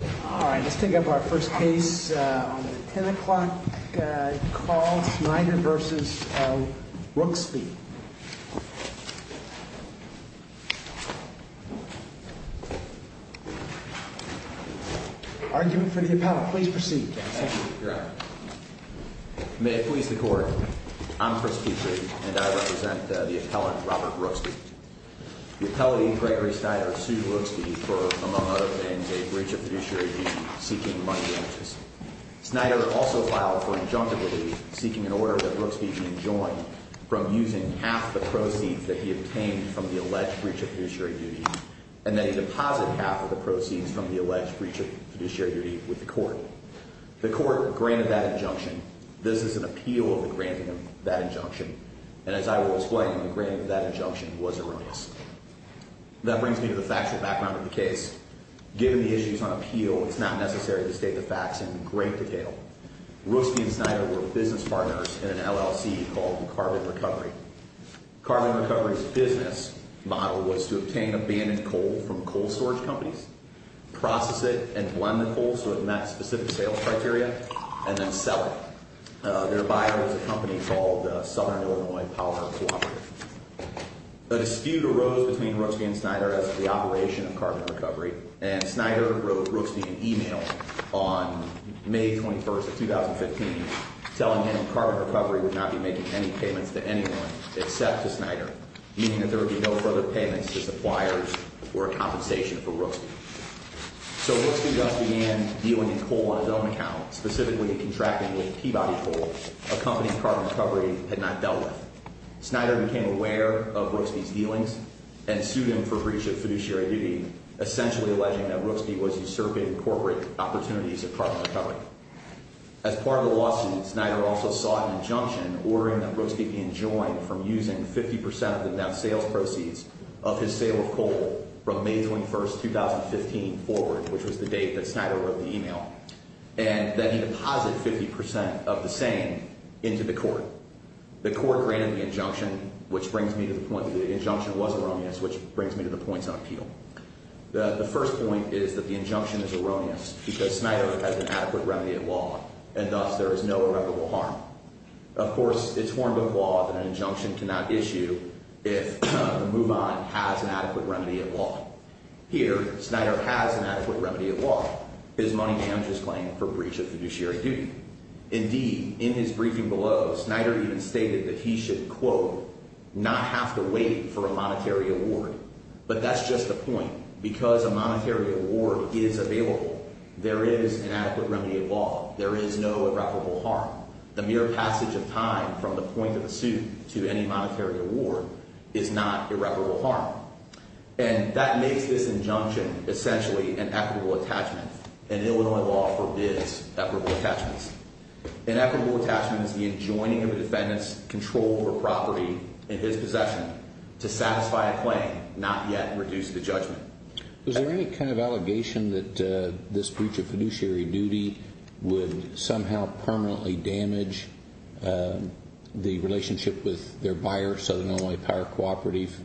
All right, let's take up our first case on the 10 o'clock call, Snyder v. Rooksby. Argument for the appellant. Please proceed, Justice. Thank you, Your Honor. May it please the Court, I'm Chris Petry, and I represent the appellant, Robert Rooksby. The appellate, Gregory Snyder, sued Rooksby for, among other things, a breach of fiduciary duty seeking money damages. Snyder also filed for injunctivity, seeking an order that Rooksby be enjoined from using half the proceeds that he obtained from the alleged breach of fiduciary duty, and that he deposit half of the proceeds from the alleged breach of fiduciary duty with the Court. The Court granted that injunction. This is an appeal of the granting of that injunction. And as I will explain, the granting of that injunction was erroneous. That brings me to the factual background of the case. Given the issues on appeal, it's not necessary to state the facts in great detail. Rooksby and Snyder were business partners in an LLC called Carbon Recovery. Carbon Recovery's business model was to obtain abandoned coal from coal storage companies, process it, and blend the coal so it met specific sales criteria, and then sell it. Their buyer was a company called Southern Illinois Power Cooperative. A dispute arose between Rooksby and Snyder as to the operation of Carbon Recovery, and Snyder wrote Rooksby an email on May 21, 2015, telling him Carbon Recovery would not be making any payments to anyone except to Snyder, meaning that there would be no further payments to suppliers or compensation for Rooksby. So Rooksby thus began dealing in coal on his own account, specifically contracting with Peabody Coal, a company Carbon Recovery had not dealt with. Snyder became aware of Rooksby's dealings and sued him for breach of fiduciary duty, essentially alleging that Rooksby was usurping corporate opportunities of Carbon Recovery. As part of the lawsuit, Snyder also sought an injunction ordering that Rooksby be enjoined from using 50 percent of the net sales proceeds of his sale of coal from May 21, 2015 forward, which was the date that Snyder wrote the email, and that he deposit 50 percent of the same into the court. The court granted the injunction, which brings me to the point that the injunction was erroneous, which brings me to the points on appeal. The first point is that the injunction is erroneous because Snyder has an adequate remedy at law, and thus there is no irreparable harm. Of course, it's horrible law that an injunction cannot issue if the move-on has an adequate remedy at law. Here, Snyder has an adequate remedy at law. His money damages claim for breach of fiduciary duty. Indeed, in his briefing below, Snyder even stated that he should, quote, not have to wait for a monetary award. But that's just the point. Because a monetary award is available, there is an adequate remedy at law. There is no irreparable harm. The mere passage of time from the point of the suit to any monetary award is not irreparable harm. And that makes this injunction essentially an equitable attachment, and Illinois law forbids equitable attachments. An equitable attachment is the enjoining of a defendant's control over property in his possession to satisfy a claim, not yet reduce the judgment. Was there any kind of allegation that this breach of fiduciary duty would somehow permanently damage the relationship with their buyer, Southern Illinois Power Cooperative?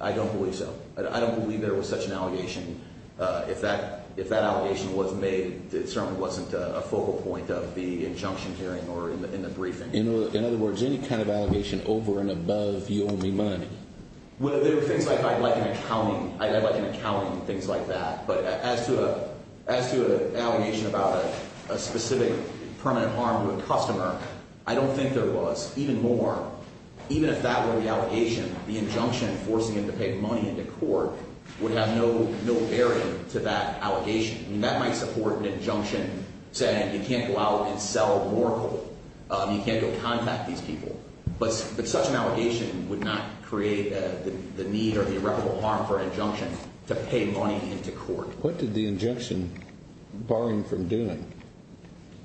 I don't believe so. I don't believe there was such an allegation. If that allegation was made, it certainly wasn't a focal point of the injunction hearing or in the briefing. In other words, any kind of allegation over and above you owe me money? There are things like an accounting, things like that. But as to an allegation about a specific permanent harm to a customer, I don't think there was. Even more, even if that were the allegation, the injunction forcing him to pay money into court would have no bearing to that allegation. I mean, that might support an injunction saying you can't go out and sell more coal, you can't go contact these people. But such an allegation would not create the need or the irreparable harm for an injunction to pay money into court. What did the injunction bar him from doing?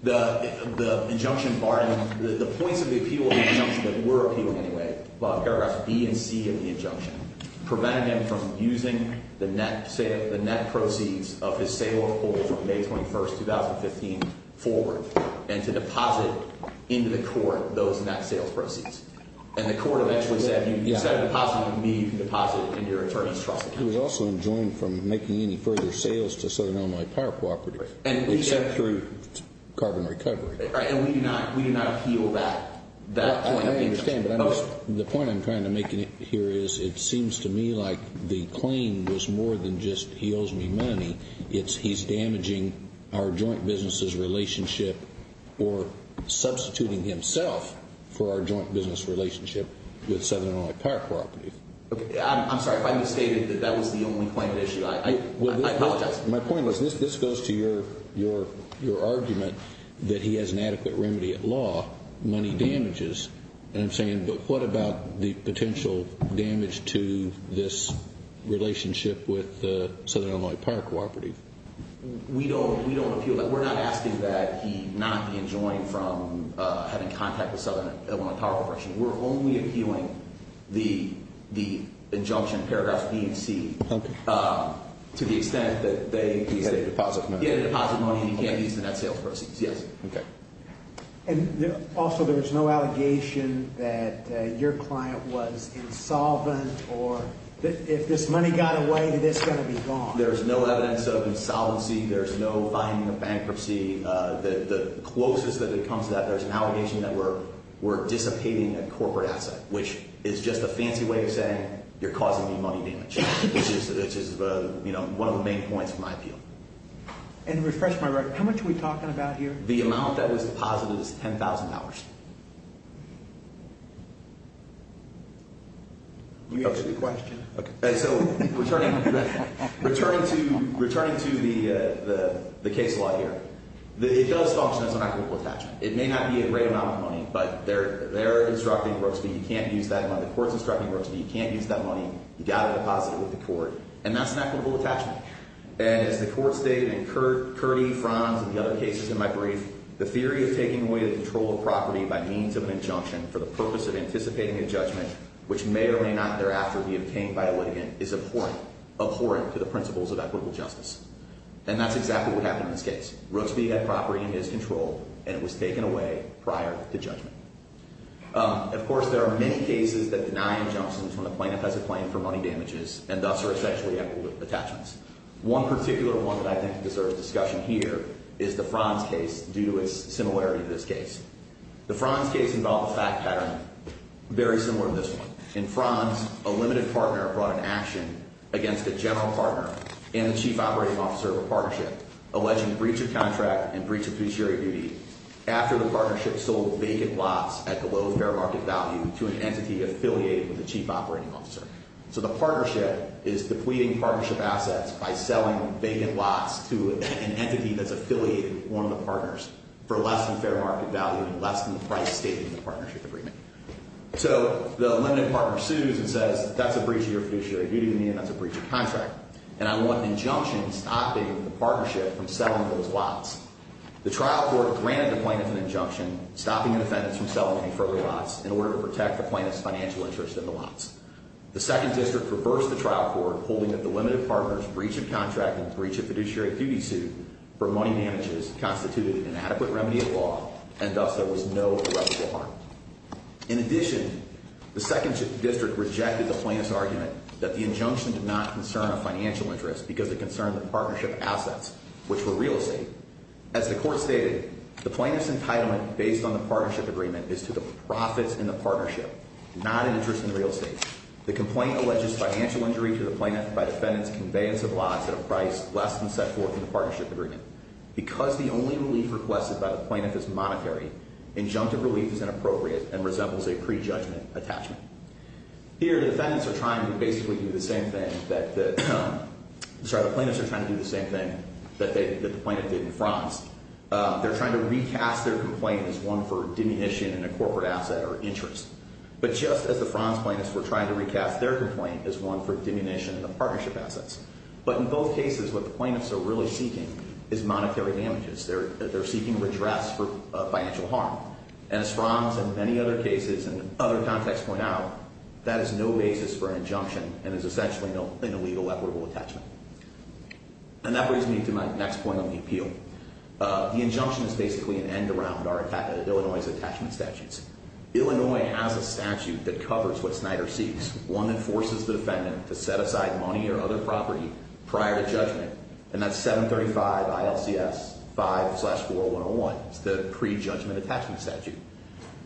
The injunction barred him. The points of the appeal of the injunction that were appealed anyway, paragraph B and C of the injunction, prevented him from using the net proceeds of his sale of coal from May 21st, 2015, forward, and to deposit into the court those net sales proceeds. And the court eventually said, instead of depositing in me, you can deposit in your attorney's trust account. He was also enjoined from making any further sales to Southern Illinois Power Cooperative, except through carbon recovery. And we do not appeal that point of the injunction. I understand, but the point I'm trying to make here is it seems to me like the claim was more than just he owes me money. It's he's damaging our joint business's relationship or substituting himself for our joint business relationship with Southern Illinois Power Cooperative. I'm sorry. If I misstated, that was the only claim at issue. I apologize. My point was, this goes to your argument that he has an adequate remedy at law, money damages. And I'm saying, but what about the potential damage to this relationship with Southern Illinois Power Cooperative? We don't appeal that. We're not asking that he not be enjoined from having contact with Southern Illinois Power Cooperative. We're only appealing the injunction, paragraphs B and C, to the extent that they get a deposit money and he can't use the net sales proceeds. Yes. Okay. And also, there's no allegation that your client was insolvent or if this money got away, this is going to be gone. There's no evidence of insolvency. There's no finding of bankruptcy. The closest that it comes to that, there's an allegation that we're dissipating a corporate asset, which is just a fancy way of saying you're causing me money damage, which is one of the main points of my appeal. And to refresh my record, how much are we talking about here? The amount that was deposited is $10,000. We have a question. Okay. So, returning to the case law here, it does function as an equitable attachment. It may not be a great amount of money, but they're instructing Brooks that you can't use that money. The court's instructing Brooks that you can't use that money. You've got to deposit it with the court, and that's an equitable attachment. And as the court stated in Curti, Franz, and the other cases in my brief, the theory of taking away the control of property by means of an injunction for the purpose of anticipating a judgment, which may or may not thereafter be obtained by a litigant, is abhorrent. Abhorrent to the principles of equitable justice. And that's exactly what happened in this case. Brooks had property in his control, and it was taken away prior to judgment. Of course, there are many cases that deny injunctions when a plaintiff has a claim for money damages, and thus are essentially equitable attachments. One particular one that I think deserves discussion here is the Franz case, due to its similarity to this case. The Franz case involved a fact pattern very similar to this one. In Franz, a limited partner brought an action against a general partner and the chief operating officer of a partnership, alleging breach of contract and breach of fiduciary duty, after the partnership sold vacant lots at below fair market value to an entity affiliated with the chief operating officer. So the partnership is depleting partnership assets by selling vacant lots to an entity that's affiliated with one of the partners for less than fair market value and less than the price stated in the partnership agreement. So the limited partner sues and says, that's a breach of your fiduciary duty, and that's a breach of contract. And I want an injunction stopping the partnership from selling those lots. The trial court granted the plaintiff an injunction stopping the defendants from selling any further lots in order to protect the plaintiff's financial interest in the lots. The second district reversed the trial court, holding that the limited partner's breach of contract and breach of fiduciary duty suit for money damages constituted an adequate remedy of law, and thus there was no irreparable harm. In addition, the second district rejected the plaintiff's argument that the injunction did not concern a financial interest because it concerned the partnership assets, which were real estate. As the court stated, the plaintiff's entitlement based on the partnership agreement is to the profits in the partnership, not an interest in the real estate. The complaint alleges financial injury to the plaintiff by the defendant's conveyance of lots at a price less than set forth in the partnership agreement. Because the only relief requested by the plaintiff is monetary, injunctive relief is inappropriate and resembles a prejudgment attachment. Here, the defendants are trying to basically do the same thing that the plaintiffs are trying to do the same thing that the plaintiff did in Franz. They're trying to recast their complaint as one for diminution in a corporate asset or interest. But just as the Franz plaintiffs were trying to recast their complaint as one for diminution in the partnership assets. But in both cases, what the plaintiffs are really seeking is monetary damages. They're seeking redress for financial harm. And as Franz and many other cases in other contexts point out, that is no basis for an injunction and is essentially an illegal equitable attachment. And that brings me to my next point on the appeal. The injunction is basically an end around Illinois' attachment statutes. Illinois has a statute that covers what Snyder seeks. One that forces the defendant to set aside money or other property prior to judgment. And that's 735 ILCS 5 slash 40101. It's the prejudgment attachment statute.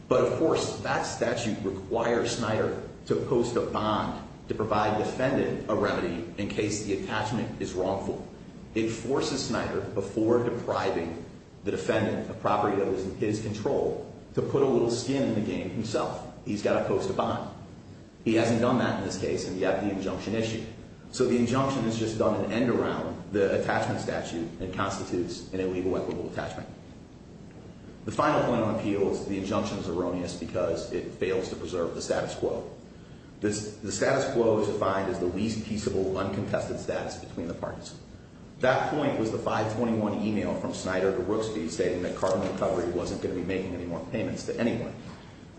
But of course, that statute requires Snyder to post a bond to provide the defendant a remedy in case the attachment is wrongful. It forces Snyder before depriving the defendant of property that was in his control to put a little skin in the game himself. He's got to post a bond. He hasn't done that in this case and yet the injunction issued. So the injunction has just done an end around the attachment statute and constitutes an illegal equitable attachment. The final point on appeal is the injunction is erroneous because it fails to preserve the status quo. The status quo is defined as the least peaceable uncontested status between the parties. That point was the 521 email from Snyder to Rooksby stating that carbon recovery wasn't going to be making any more payments to anyone.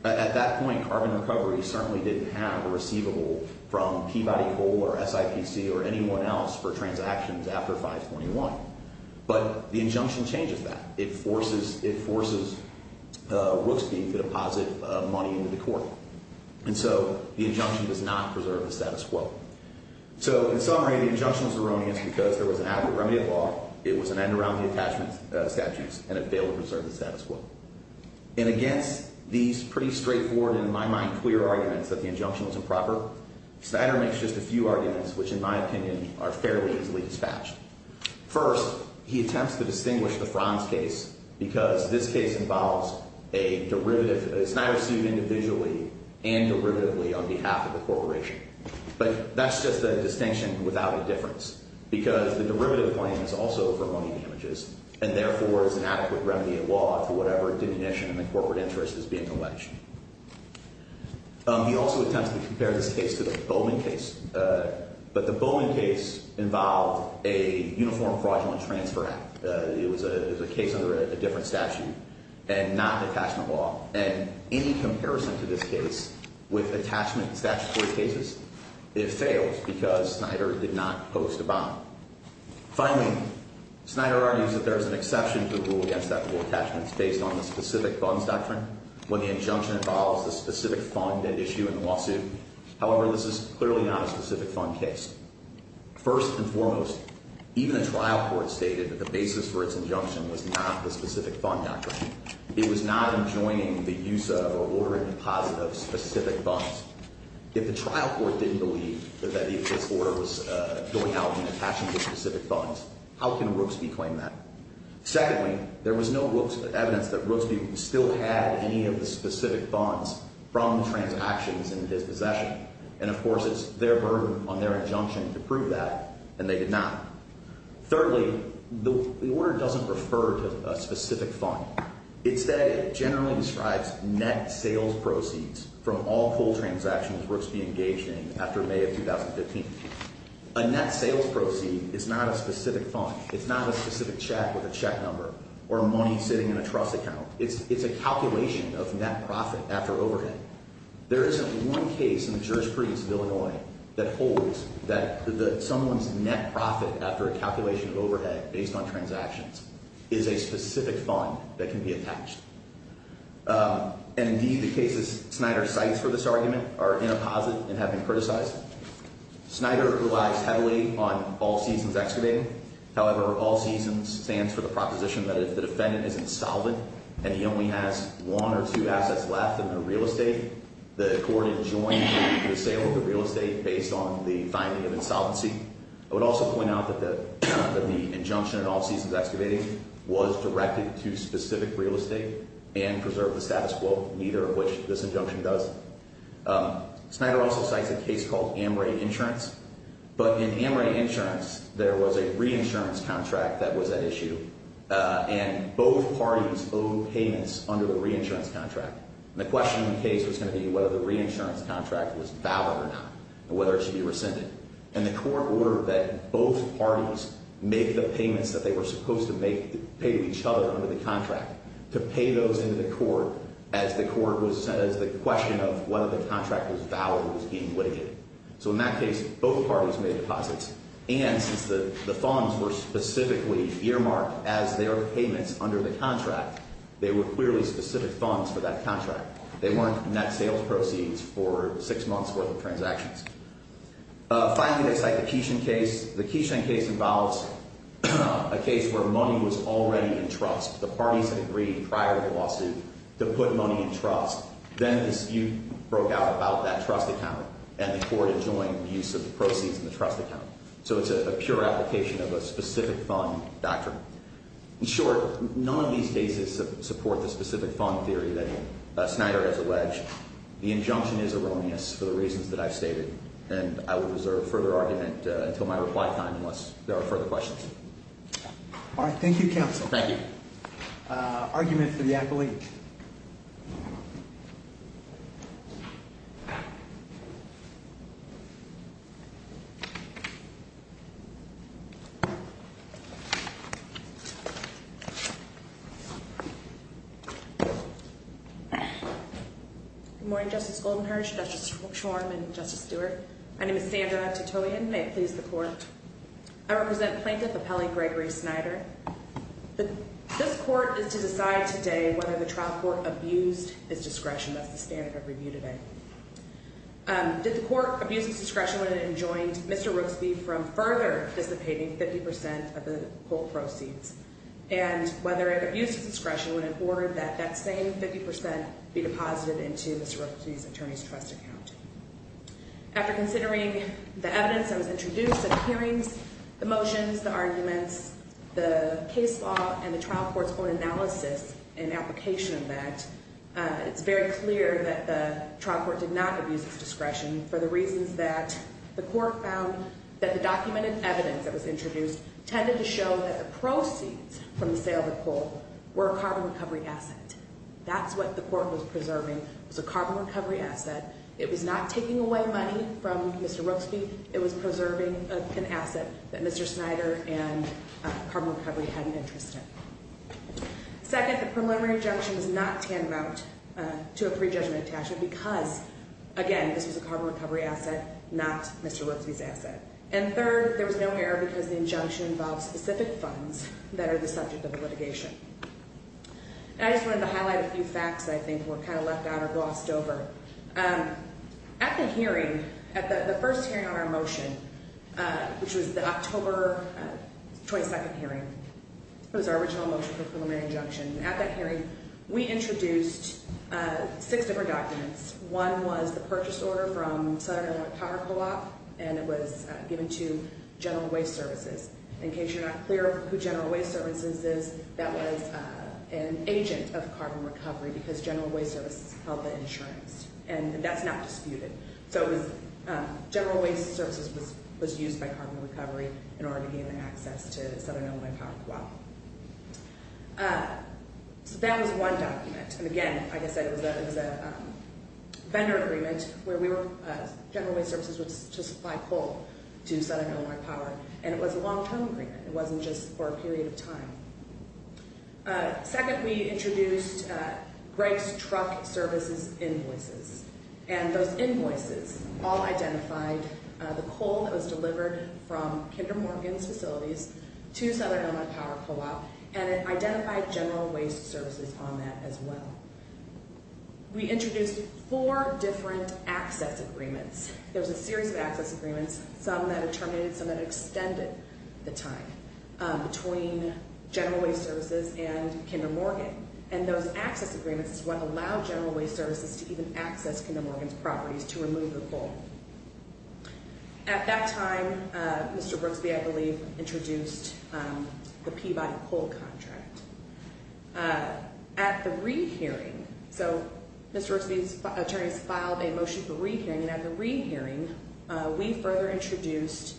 At that point, carbon recovery certainly didn't have a receivable from Peabody Coal or SIPC or anyone else for transactions after 521. But the injunction changes that. It forces Rooksby to deposit money into the court. And so the injunction does not preserve the status quo. So in summary, the injunction is erroneous because there was an adequate remedy of law, it was an end around the attachment statutes, and it failed to preserve the status quo. And against these pretty straightforward in my mind clear arguments that the injunction was improper, Snyder makes just a few arguments which in my opinion are fairly easily dispatched. First, he attempts to distinguish the Franz case because this case involves a derivative, a Snyder suit individually and derivatively on behalf of the corporation. But that's just a distinction without a difference because the derivative claim is also for money damages and therefore is an adequate remedy of law for whatever diminution in the corporate interest is being alleged. He also attempts to compare this case to the Bowman case. But the Bowman case involved a uniform fraudulent transfer act. It was a case under a different statute and not an attachment law. And any comparison to this case with attachment statute court cases, it fails because Snyder did not post a bond. Finally, Snyder argues that there is an exception to the rule against equitable attachments based on the specific funds doctrine when the injunction involves the specific fund at issue in the lawsuit. However, this is clearly not a specific fund case. First and foremost, even a trial court stated that the basis for its injunction was not the specific fund doctrine. It was not enjoining the use of or ordering deposit of specific funds. If the trial court didn't believe that this order was going out and attaching the specific funds, how can Rooksby claim that? Secondly, there was no evidence that Rooksby still had any of the specific funds from transactions in his possession. And of course, it's their burden on their injunction to prove that, and they did not. Thirdly, the order doesn't refer to a specific fund. It generally describes net sales proceeds from all coal transactions Rooksby engaged in after May of 2015. A net sales proceed is not a specific fund. It's not a specific check with a check number or money sitting in a trust account. It's a calculation of net profit after overhead. There isn't one case in the jurisprudence of Illinois that holds that someone's net profit after a calculation of overhead based on transactions is a specific fund that can be attached. And indeed, the cases Snyder cites for this argument are in a posit and have been criticized. Snyder relies heavily on all seasons excavating. However, all seasons stands for the proposition that if the defendant is insolvent and he only has one or two assets left in the real estate, the court adjoins the sale of the real estate based on the finding of insolvency. I would also point out that the injunction in all seasons excavating was directed to specific real estate and preserved the status quo, neither of which this injunction does. Snyder also cites a case called Amrae Insurance. But in Amrae Insurance, there was a reinsurance contract that was at issue, and both parties owed payments under the reinsurance contract. And the question in the case was going to be whether the reinsurance contract was valid or not and whether it should be rescinded. And the court ordered that both parties make the payments that they were supposed to pay to each other under the contract, to pay those into the court as the question of whether the contract was valid was being litigated. So in that case, both parties made deposits. And since the funds were specifically earmarked as their payments under the contract, they were clearly specific funds for that contract. They weren't net sales proceeds for six months' worth of transactions. Finally, I'd cite the Keeshan case. The Keeshan case involves a case where money was already in trust. The parties had agreed prior to the lawsuit to put money in trust. Then the dispute broke out about that trust account, and the court adjoined the use of the proceeds in the trust account. So it's a pure application of a specific fund doctrine. In short, none of these cases support the specific fund theory that Snyder has alleged. The injunction is erroneous for the reasons that I've stated, and I will reserve further argument until my reply time unless there are further questions. All right. Thank you, counsel. Thank you. Argument for the apple each. Good morning, Justice Goldenherz, Justice Schwarm, and Justice Stewart. My name is Sandra Titoyen. May it please the court. I represent Plaintiff Appellee Gregory Snyder. This court is to decide today whether the trial court abused its discretion. That's the standard of review today. Did the court abuse its discretion when it enjoined Mr. Rooksby from further dissipating 50% of the whole proceeds? And whether it abused its discretion when it ordered that that same 50% be deposited into Mr. Rooksby's attorney's trust account? After considering the evidence that was introduced at the hearings, the motions, the arguments, the case law, and the trial court's own analysis and application of that, it's very clear that the trial court did not abuse its discretion for the reasons that the court found that the documented evidence that was introduced tended to show that the proceeds from the sale of the coal were a carbon recovery asset. That's what the court was preserving was a carbon recovery asset. It was not taking away money from Mr. Rooksby. It was preserving an asset that Mr. Snyder and carbon recovery had an interest in. Second, the preliminary injunction was not tantamount to a pre-judgment attachment because, again, this was a carbon recovery asset, not Mr. Rooksby's asset. And third, there was no error because the injunction involved specific funds that are the subject of the litigation. And I just wanted to highlight a few facts I think were kind of left out or glossed over. At the hearing, at the first hearing on our motion, which was the October 22nd hearing, was our original motion for preliminary injunction. At that hearing, we introduced six different documents. One was the purchase order from Southern Illinois Power Co-op, and it was given to General Waste Services. In case you're not clear who General Waste Services is, that was an agent of carbon recovery because General Waste Services held the insurance. And that's not disputed. So General Waste Services was used by carbon recovery in order to gain access to Southern Illinois Power Co-op. So that was one document. And, again, like I said, it was a vendor agreement where General Waste Services was to supply coal to Southern Illinois Power. And it was a long-term agreement. It wasn't just for a period of time. Second, we introduced Greg's Truck Services invoices. And those invoices all identified the coal that was delivered from Kinder Morgan's facilities to Southern Illinois Power Co-op, and it identified General Waste Services on that as well. We introduced four different access agreements. There was a series of access agreements, some that terminated, some that extended the time between General Waste Services and Kinder Morgan. And those access agreements is what allowed General Waste Services to even access Kinder Morgan's properties to remove the coal. At that time, Mr. Brooksby, I believe, introduced the Peabody Coal Contract. At the re-hearing, so Mr. Brooksby's attorneys filed a motion for re-hearing, and at the re-hearing, we further introduced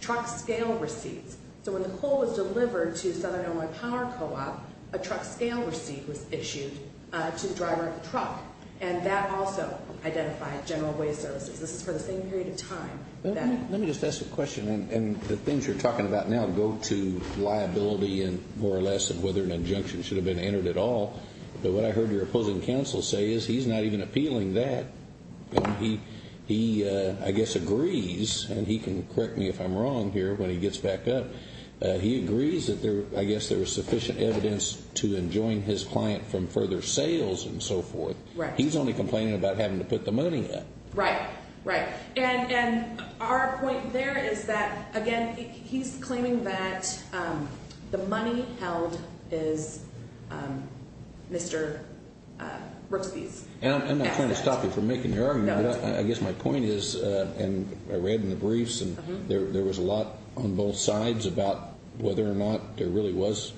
truck scale receipts. So when the coal was delivered to Southern Illinois Power Co-op, a truck scale receipt was issued to the driver of the truck, and that also identified General Waste Services. This is for the same period of time. Let me just ask a question, and the things you're talking about now go to liability and more or less of whether an injunction should have been entered at all. But what I heard your opposing counsel say is he's not even appealing that. He, I guess, agrees, and he can correct me if I'm wrong here when he gets back up. He agrees that I guess there was sufficient evidence to enjoin his client from further sales and so forth. Right. He's only complaining about having to put the money up. Right. Right. And our point there is that, again, he's claiming that the money held is Mr. Brooksby's assets. And I'm not trying to stop you from making your argument, but I guess my point is, and I read in the briefs, and there was a lot on both sides about whether or not there really was,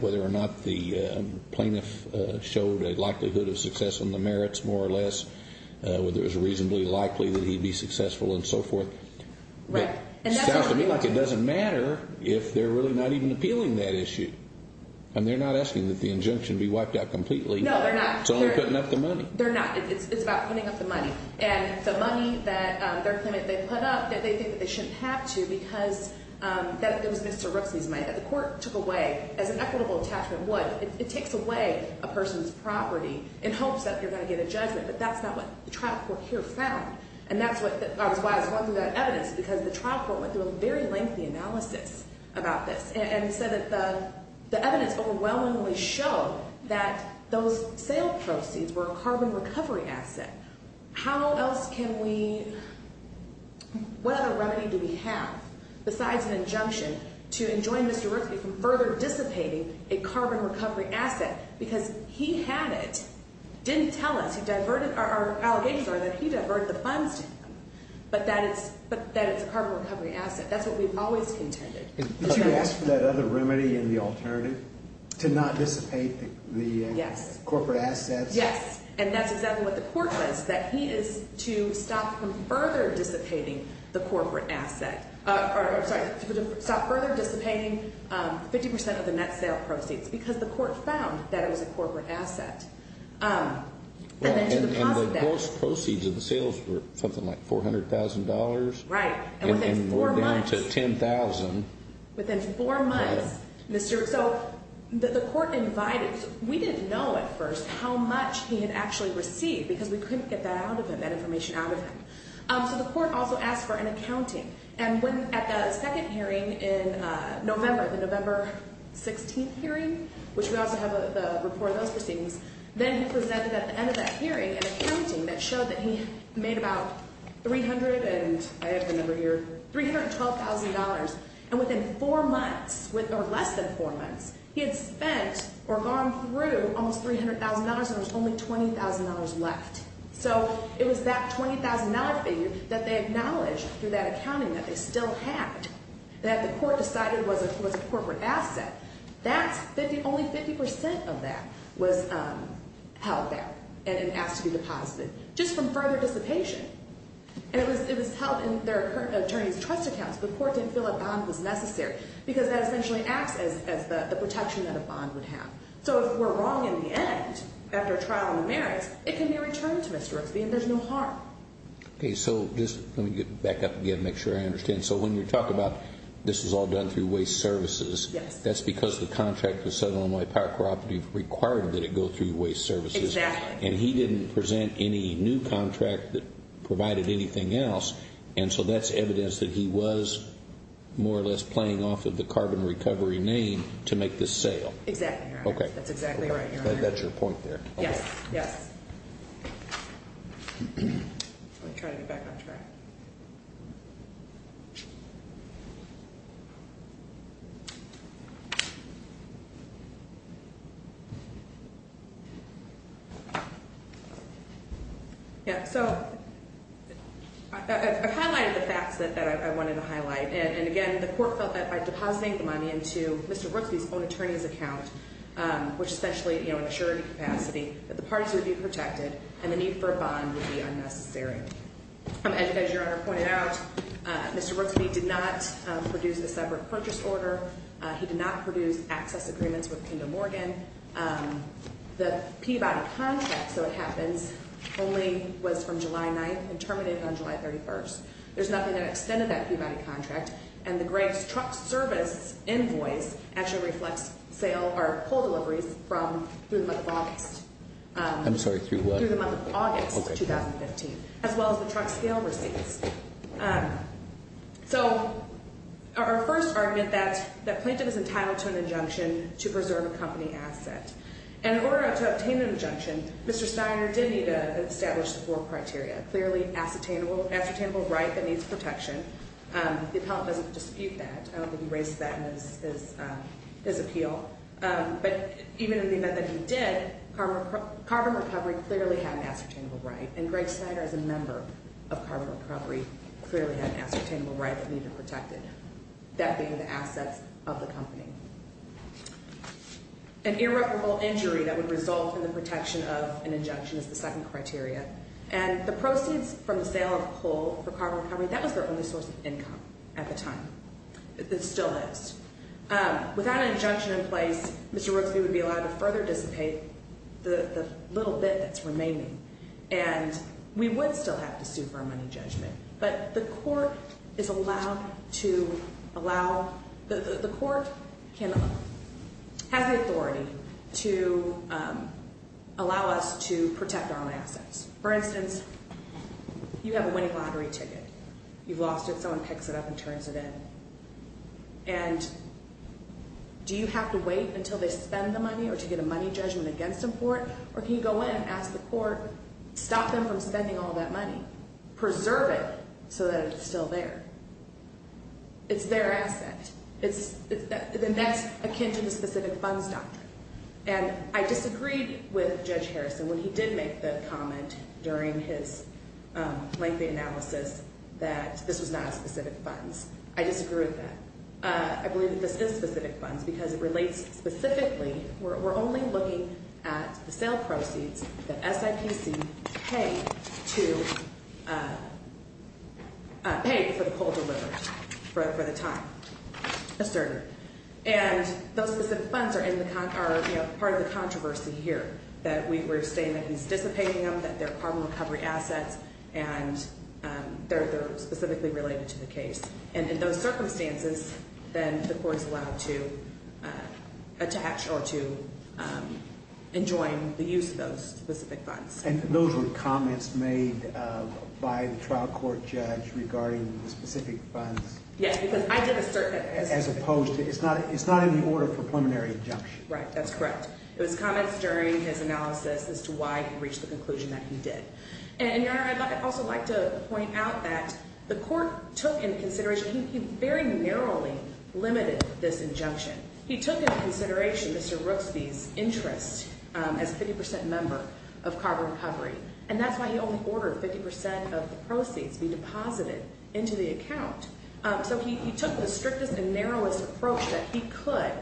whether or not the plaintiff showed a likelihood of success on the merits more or less, whether it was reasonably likely that he'd be successful and so forth. Right. It sounds to me like it doesn't matter if they're really not even appealing that issue. And they're not asking that the injunction be wiped out completely. No, they're not. It's only putting up the money. They're not. It's about putting up the money. Right. And the money that they're claiming they put up that they think that they shouldn't have to because it was Mr. Brooksby's money that the court took away as an equitable attachment would. It takes away a person's property in hopes that you're going to get a judgment. But that's not what the trial court here found. And that's why I was going through that evidence because the trial court went through a very lengthy analysis about this and said that the evidence overwhelmingly showed that those sale proceeds were a carbon recovery asset. How else can we, what other remedy do we have besides an injunction to enjoin Mr. Brooksby from further dissipating a carbon recovery asset because he had it, didn't tell us, our allegations are that he diverted the funds to him, but that it's a carbon recovery asset. That's what we've always contended. Did you ask for that other remedy in the alternative to not dissipate the corporate assets? Yes. And that's exactly what the court says, that he is to stop further dissipating 50 percent of the net sale proceeds because the court found that it was a corporate asset. And then to deposit that. And the gross proceeds of the sales were something like $400,000. Right. And within four months. Or down to $10,000. Within four months. Yeah. So the court invited, we didn't know at first how much he had actually received because we couldn't get that out of him, that information out of him. So the court also asked for an accounting. And at the second hearing in November, the November 16th hearing, which we also have the report of those proceedings, then he presented at the end of that hearing an accounting that showed that he made about $312,000. And within four months, or less than four months, he had spent or gone through almost $300,000, and there was only $20,000 left. So it was that $20,000 fee that they acknowledged through that accounting that they still had, that the court decided was a corporate asset. That's only 50% of that was held there and asked to be deposited. Just from further dissipation. And it was held in their attorney's trust accounts. The court didn't feel a bond was necessary because that essentially acts as the protection that a bond would have. So if we're wrong in the end, after a trial in the merits, it can be returned to Mr. Rooksby and there's no harm. Okay. So just let me get back up again and make sure I understand. So when you're talking about this was all done through Waste Services. Yes. That's because the contract with Southern Illinois Power Cooperative required that it go through Waste Services. Exactly. And he didn't present any new contract that provided anything else, and so that's evidence that he was more or less playing off of the carbon recovery name to make this sale. Exactly, Your Honor. Okay. That's exactly right, Your Honor. That's your point there. Yes, yes. Let me try to get back on track. Yeah, so I've highlighted the facts that I wanted to highlight, and, again, the court felt that by depositing the money into Mr. Rooksby's own attorney's account, which is essentially an insurance capacity, that the parties would be protected and the need for a bond would be unnecessary. As Your Honor pointed out, Mr. Rooksby did not produce a separate purchase order. He did not produce access agreements with Kindle Morgan. The Peabody contract, so it happens, only was from July 9th and terminated on July 31st. There's nothing that extended that Peabody contract, and the Greg's truck service invoice actually reflects pull deliveries through the month of August. I'm sorry, through what? Through the month of August 2015, as well as the truck sale receipts. So our first argument, that plaintiff is entitled to an injunction to preserve a company asset, and in order to obtain an injunction, Mr. Steiner did need to establish the four criteria, a clearly ascertainable right that needs protection. The appellant doesn't dispute that. I don't think he raised that in his appeal. But even in the event that he did, carbon recovery clearly had an ascertainable right, and Greg Steiner, as a member of carbon recovery, clearly had an ascertainable right that needed protected, that being the assets of the company. An irreparable injury that would result in the protection of an injunction is the second criteria, and the proceeds from the sale of coal for carbon recovery, that was their only source of income at the time. It still is. Without an injunction in place, Mr. Rooksby would be allowed to further dissipate the little bit that's remaining, and we would still have to sue for a money judgment. But the court is allowed to allow the court has the authority to allow us to protect our assets. For instance, you have a winning lottery ticket. You've lost it. Someone picks it up and turns it in, and do you have to wait until they spend the money or to get a money judgment against them for it, or can you go in and ask the court, stop them from spending all that money, preserve it so that it's still there? It's their asset. Then that's akin to the specific funds doctrine. And I disagreed with Judge Harrison when he did make the comment during his lengthy analysis that this was not a specific funds. I disagree with that. I believe that this is specific funds because it relates specifically. We're only looking at the sale proceeds that SIPC paid for the poll delivered for the time asserted. And those specific funds are part of the controversy here, that we're saying that he's dissipating them, that they're carbon recovery assets, and they're specifically related to the case. And in those circumstances, then the court is allowed to attach or to enjoin the use of those specific funds. And those were comments made by the trial court judge regarding the specific funds? Yes, because I did assert that. As opposed to, it's not in the order for preliminary injunction. Right, that's correct. It was comments during his analysis as to why he reached the conclusion that he did. And, Your Honor, I'd also like to point out that the court took into consideration, he very narrowly limited this injunction. He took into consideration Mr. Rooksby's interest as a 50% member of carbon recovery, and that's why he only ordered 50% of the proceeds be deposited into the account. So he took the strictest and narrowest approach that he could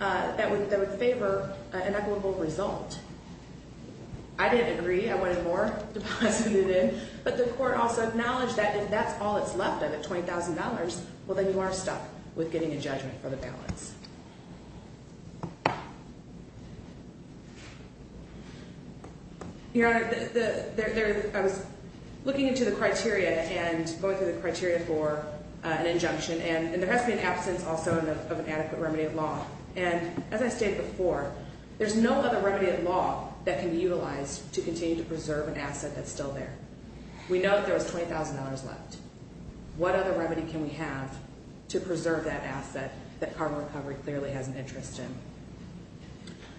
that would favor an equitable result. I didn't agree. I wanted more deposited in. But the court also acknowledged that if that's all that's left of it, $20,000, well, then you are stuck with getting a judgment for the balance. Your Honor, I was looking into the criteria and going through the criteria for an injunction, and there has to be an absence also of an adequate remedy of law. And, as I stated before, there's no other remedy of law that can be utilized to continue to preserve an asset that's still there. We know that there was $20,000 left. What other remedy can we have to preserve that asset that carbon recovery clearly has an interest in?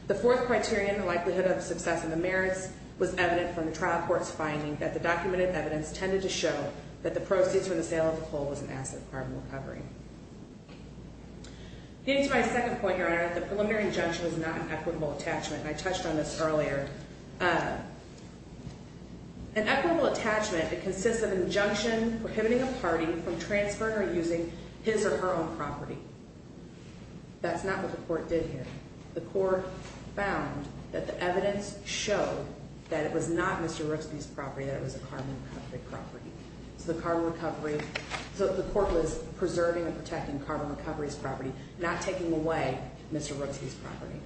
The fourth criterion, the likelihood of success in the merits, was evident from the trial court's finding that the documented evidence tended to show that the proceeds from the sale of the coal was an asset of carbon recovery. Getting to my second point, Your Honor, the preliminary injunction was not an equitable attachment. I touched on this earlier. An equitable attachment, it consists of an injunction prohibiting a party from transferring or using his or her own property. That's not what the court did here. The court found that the evidence showed that it was not Mr. Rooksby's property, that it was a carbon recovery property. So the carbon recovery, so the court was preserving and protecting carbon recovery's property, not taking away Mr. Rooksby's property.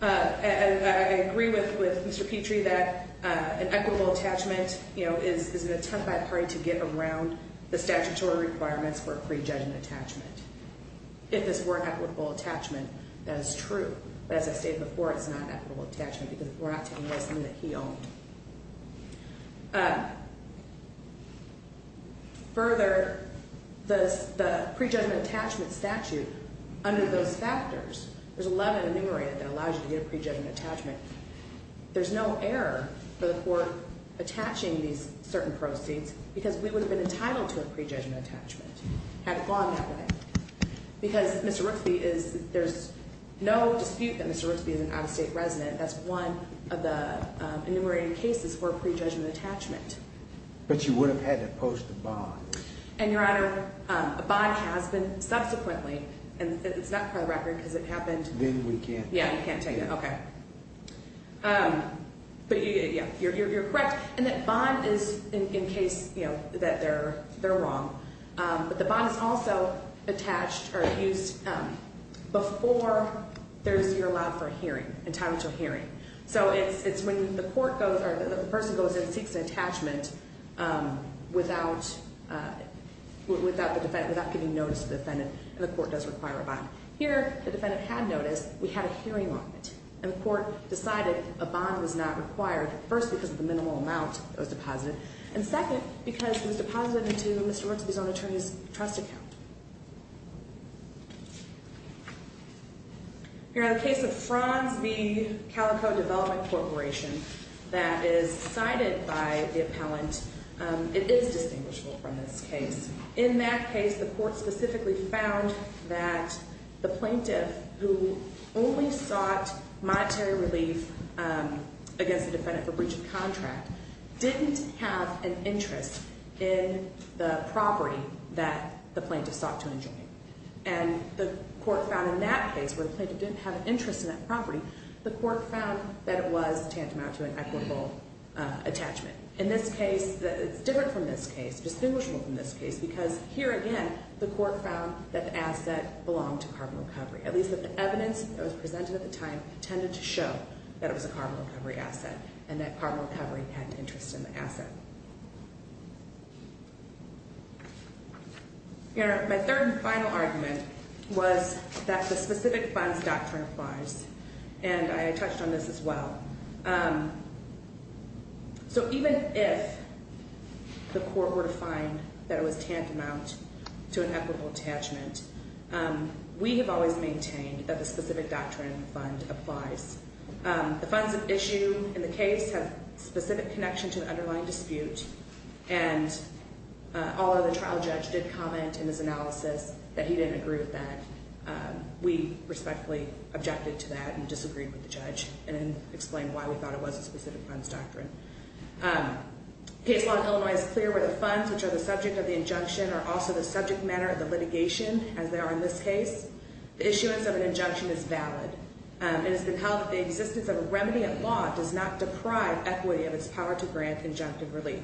And I agree with Mr. Petrie that an equitable attachment, you know, is an attempt by a party to get around the statutory requirements for a pre-judgment attachment. If this were an equitable attachment, that is true. But as I stated before, it's not an equitable attachment because we're not taking away something that he owned. Further, the pre-judgment attachment statute, under those factors, there's 11 enumerated that allows you to get a pre-judgment attachment. There's no error for the court attaching these certain proceeds because we would have been entitled to a pre-judgment attachment had it gone that way. Because Mr. Rooksby is, there's no dispute that Mr. Rooksby is an out-of-state resident. That's one of the enumerated cases for a pre-judgment attachment. But you would have had to post a bond. And, Your Honor, a bond has been subsequently, and it's not for the record because it happened. Then we can't take it. Yeah, you can't take it. Okay. But yeah, you're correct in that bond is in case, you know, that they're wrong. But the bond is also attached or used before you're allowed for a hearing, entitled to a hearing. So it's when the court goes or the person goes and seeks an attachment without the defendant, without giving notice to the defendant, and the court does require a bond. Here, the defendant had notice. We had a hearing on it, and the court decided a bond was not required, first because of the minimal amount that was deposited, and second because it was deposited into Mr. Rooksby's own attorney's trust account. Here, in the case of Franz V. Calico Development Corporation that is cited by the appellant, it is distinguishable from this case. In that case, the court specifically found that the plaintiff, who only sought monetary relief against the defendant for breach of contract, didn't have an interest in the property that the plaintiff sought to enjoy. And the court found in that case, where the plaintiff didn't have an interest in that property, the court found that it was tantamount to an equitable attachment. In this case, it's different from this case, distinguishable from this case, because here again, the court found that the asset belonged to Carbon Recovery, at least that the evidence that was presented at the time tended to show that it was a Carbon Recovery asset, and that Carbon Recovery had an interest in the asset. Here, my third and final argument was that the specific funds doctrine applies, and I touched on this as well. So even if the court were to find that it was tantamount to an equitable attachment, we have always maintained that the specific doctrine fund applies. The funds at issue in the case have specific connection to the underlying dispute, and although the trial judge did comment in his analysis that he didn't agree with that, we respectfully objected to that and disagreed with the judge and explained why we thought it was a specific funds doctrine. Case law in Illinois is clear where the funds, which are the subject of the injunction, are also the subject matter of the litigation, as they are in this case. The issuance of an injunction is valid. It has been held that the existence of a remedy at law does not deprive equity of its power to grant injunctive relief.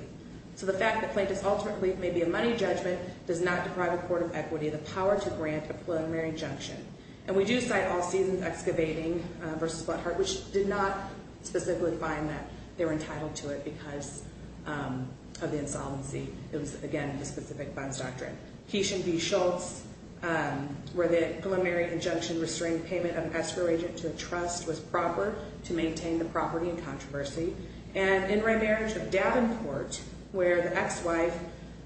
So the fact that plaintiff's ultimate relief may be a money judgment does not deprive a court of equity of the power to grant a preliminary injunction. And we do cite All Seasons Excavating v. Flat Heart, which did not specifically find that they were entitled to it because of the insolvency. It was, again, a specific funds doctrine. Keeshan v. Schultz, where the preliminary injunction restrained payment of escrow agent to a trust was proper to maintain the property in controversy. And in remarriage of Davenport, where the ex-wife,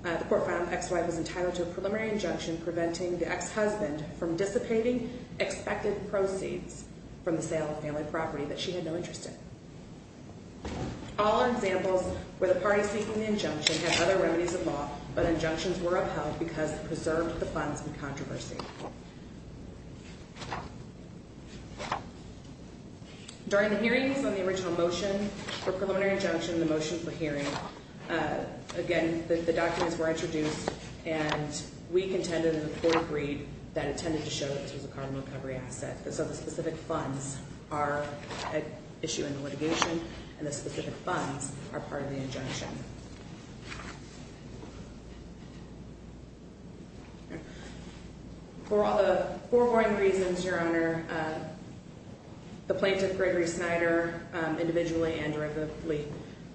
the court found the ex-wife was entitled to a preliminary injunction preventing the ex-husband from dissipating expected proceeds from the sale of family property that she had no interest in. All are examples where the parties seeking the injunction had other remedies of law, but injunctions were upheld because it preserved the funds in controversy. During the hearings on the original motion for preliminary injunction, the motion for hearing, again, the documents were introduced, and we contended in the court agreed that it tended to show that this was a carbon recovery asset. So the specific funds are at issue in the litigation, and the specific funds are part of the injunction. For all the foregoing reasons, Your Honor, the plaintiff, Gregory Snyder, individually and directly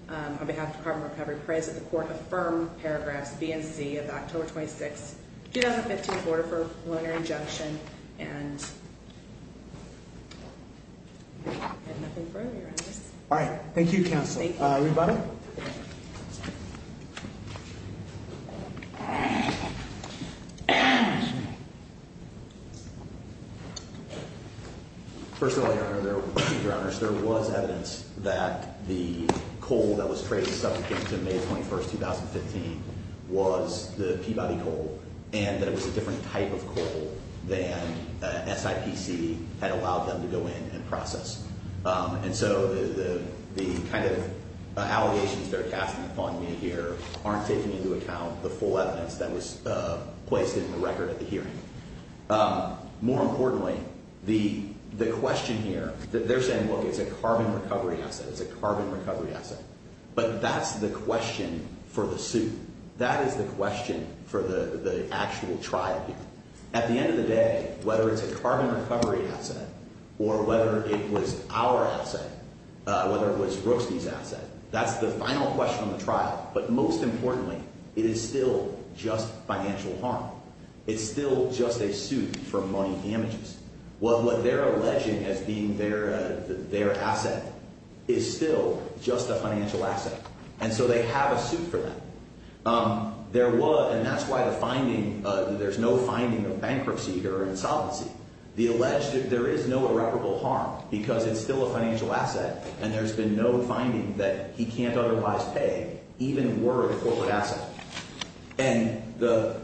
on behalf of Carbon Recovery, prays that the court affirm paragraphs B and C of October 26, 2015, in order for a preliminary injunction and nothing further, Your Honors. All right. Thank you, counsel. Thank you. Thank you, Your Honors. There was evidence that the coal that was traded subject to May 21, 2015, was the Peabody coal, and that it was a different type of coal than SIPC had allowed them to go in and process. And so the kind of allegations they're casting upon me here aren't taking into account the full evidence that was placed in the record at the hearing. More importantly, the question here, they're saying, look, it's a carbon recovery asset. It's a carbon recovery asset. But that's the question for the suit. That is the question for the actual trial here. At the end of the day, whether it's a carbon recovery asset or whether it was our asset, whether it was Rooksby's asset, that's the final question on the trial. But most importantly, it is still just financial harm. It's still just a suit for money damages. What they're alleging as being their asset is still just a financial asset. And so they have a suit for that. There was, and that's why the finding, there's no finding of bankruptcy or insolvency. The alleged, there is no irreparable harm because it's still a financial asset, and there's been no finding that he can't otherwise pay even were it a corporate asset. And the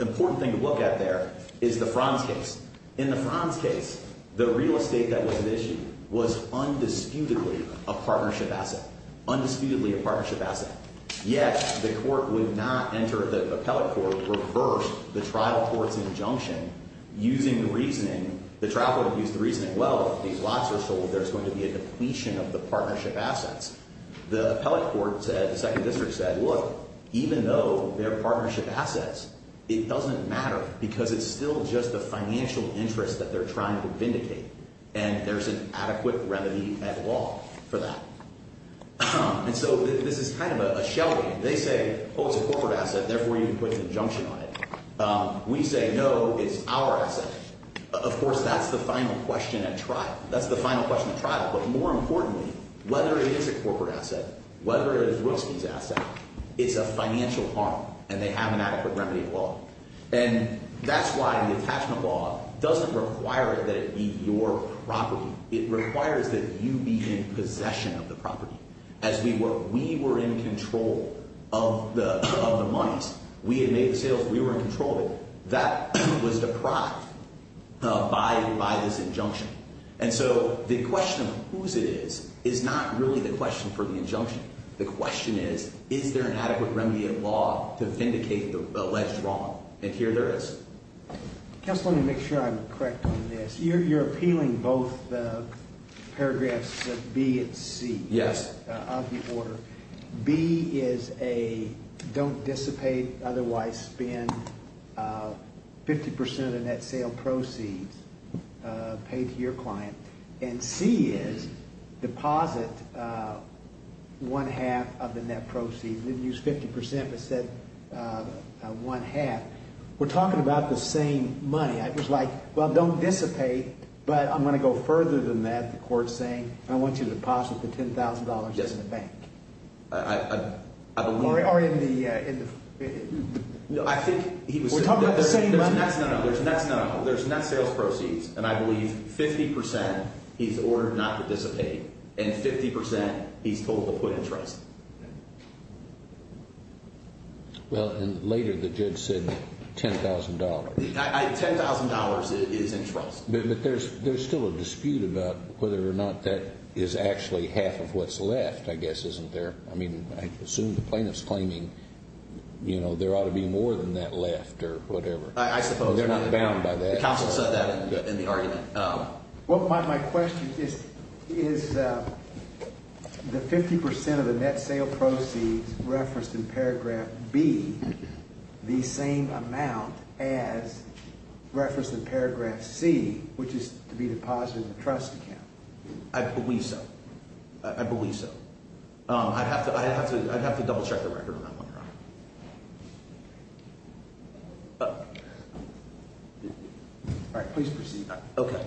important thing to look at there is the Franz case. In the Franz case, the real estate that was at issue was undisputedly a partnership asset, undisputedly a partnership asset. Yet the court would not enter, the appellate court reversed the trial court's injunction using the reasoning, the trial court used the reasoning, well, if these lots are sold, there's going to be a depletion of the partnership assets. The appellate court said, the second district said, look, even though they're partnership assets, it doesn't matter because it's still just a financial interest that they're trying to vindicate, and there's an adequate remedy at law for that. And so this is kind of a shell game. They say, oh, it's a corporate asset, therefore you can put an injunction on it. We say, no, it's our asset. Of course, that's the final question at trial. That's the final question at trial. But more importantly, whether it is a corporate asset, whether it is Rutzke's asset, it's a financial harm, and they have an adequate remedy at law. And that's why the attachment law doesn't require that it be your property. It requires that you be in possession of the property as we were. We were in control of the monies. We had made the sales. We were in control of it. That was deprived by this injunction. And so the question of whose it is is not really the question for the injunction. The question is, is there an adequate remedy at law to vindicate the alleged wrong? And here there is. Just let me make sure I'm correct on this. You're appealing both paragraphs B and C of the order. B is a don't dissipate, otherwise spend 50% of the net sale proceeds paid to your client. And C is deposit one-half of the net proceeds. We didn't use 50% but said one-half. We're talking about the same money. It was like, well, don't dissipate, but I'm going to go further than that. I want you to deposit the $10,000 in the bank. Or in the ---- We're talking about the same money. There's net sales proceeds, and I believe 50% he's ordered not to dissipate, and 50% he's told to put in trust. Well, and later the judge said $10,000. $10,000 is in trust. But there's still a dispute about whether or not that is actually half of what's left, I guess, isn't there? I mean, I assume the plaintiff's claiming there ought to be more than that left or whatever. I suppose. They're not bound by that. The counsel said that in the argument. Well, my question is, is the 50% of the net sale proceeds referenced in paragraph B the same amount as referenced in paragraph C, which is to be deposited in the trust account? I believe so. I believe so. I'd have to double-check the record on that one. All right. Please proceed. Okay.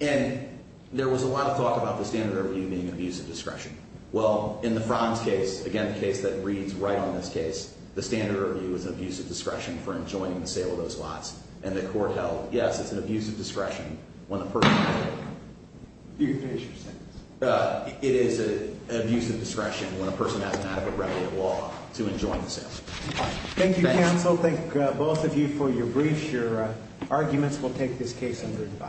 And there was a lot of talk about the standard of review being abuse of discretion. Well, in the Frans case, again, the case that reads right on this case, the standard of review is abuse of discretion for enjoining the sale of those lots. And the court held, yes, it's an abuse of discretion when a person ---- You can finish your sentence. It is an abuse of discretion when a person has an act of irregular law to enjoin the sale. Thank you, counsel. Thank both of you for your briefs. Your arguments will take this case under divide.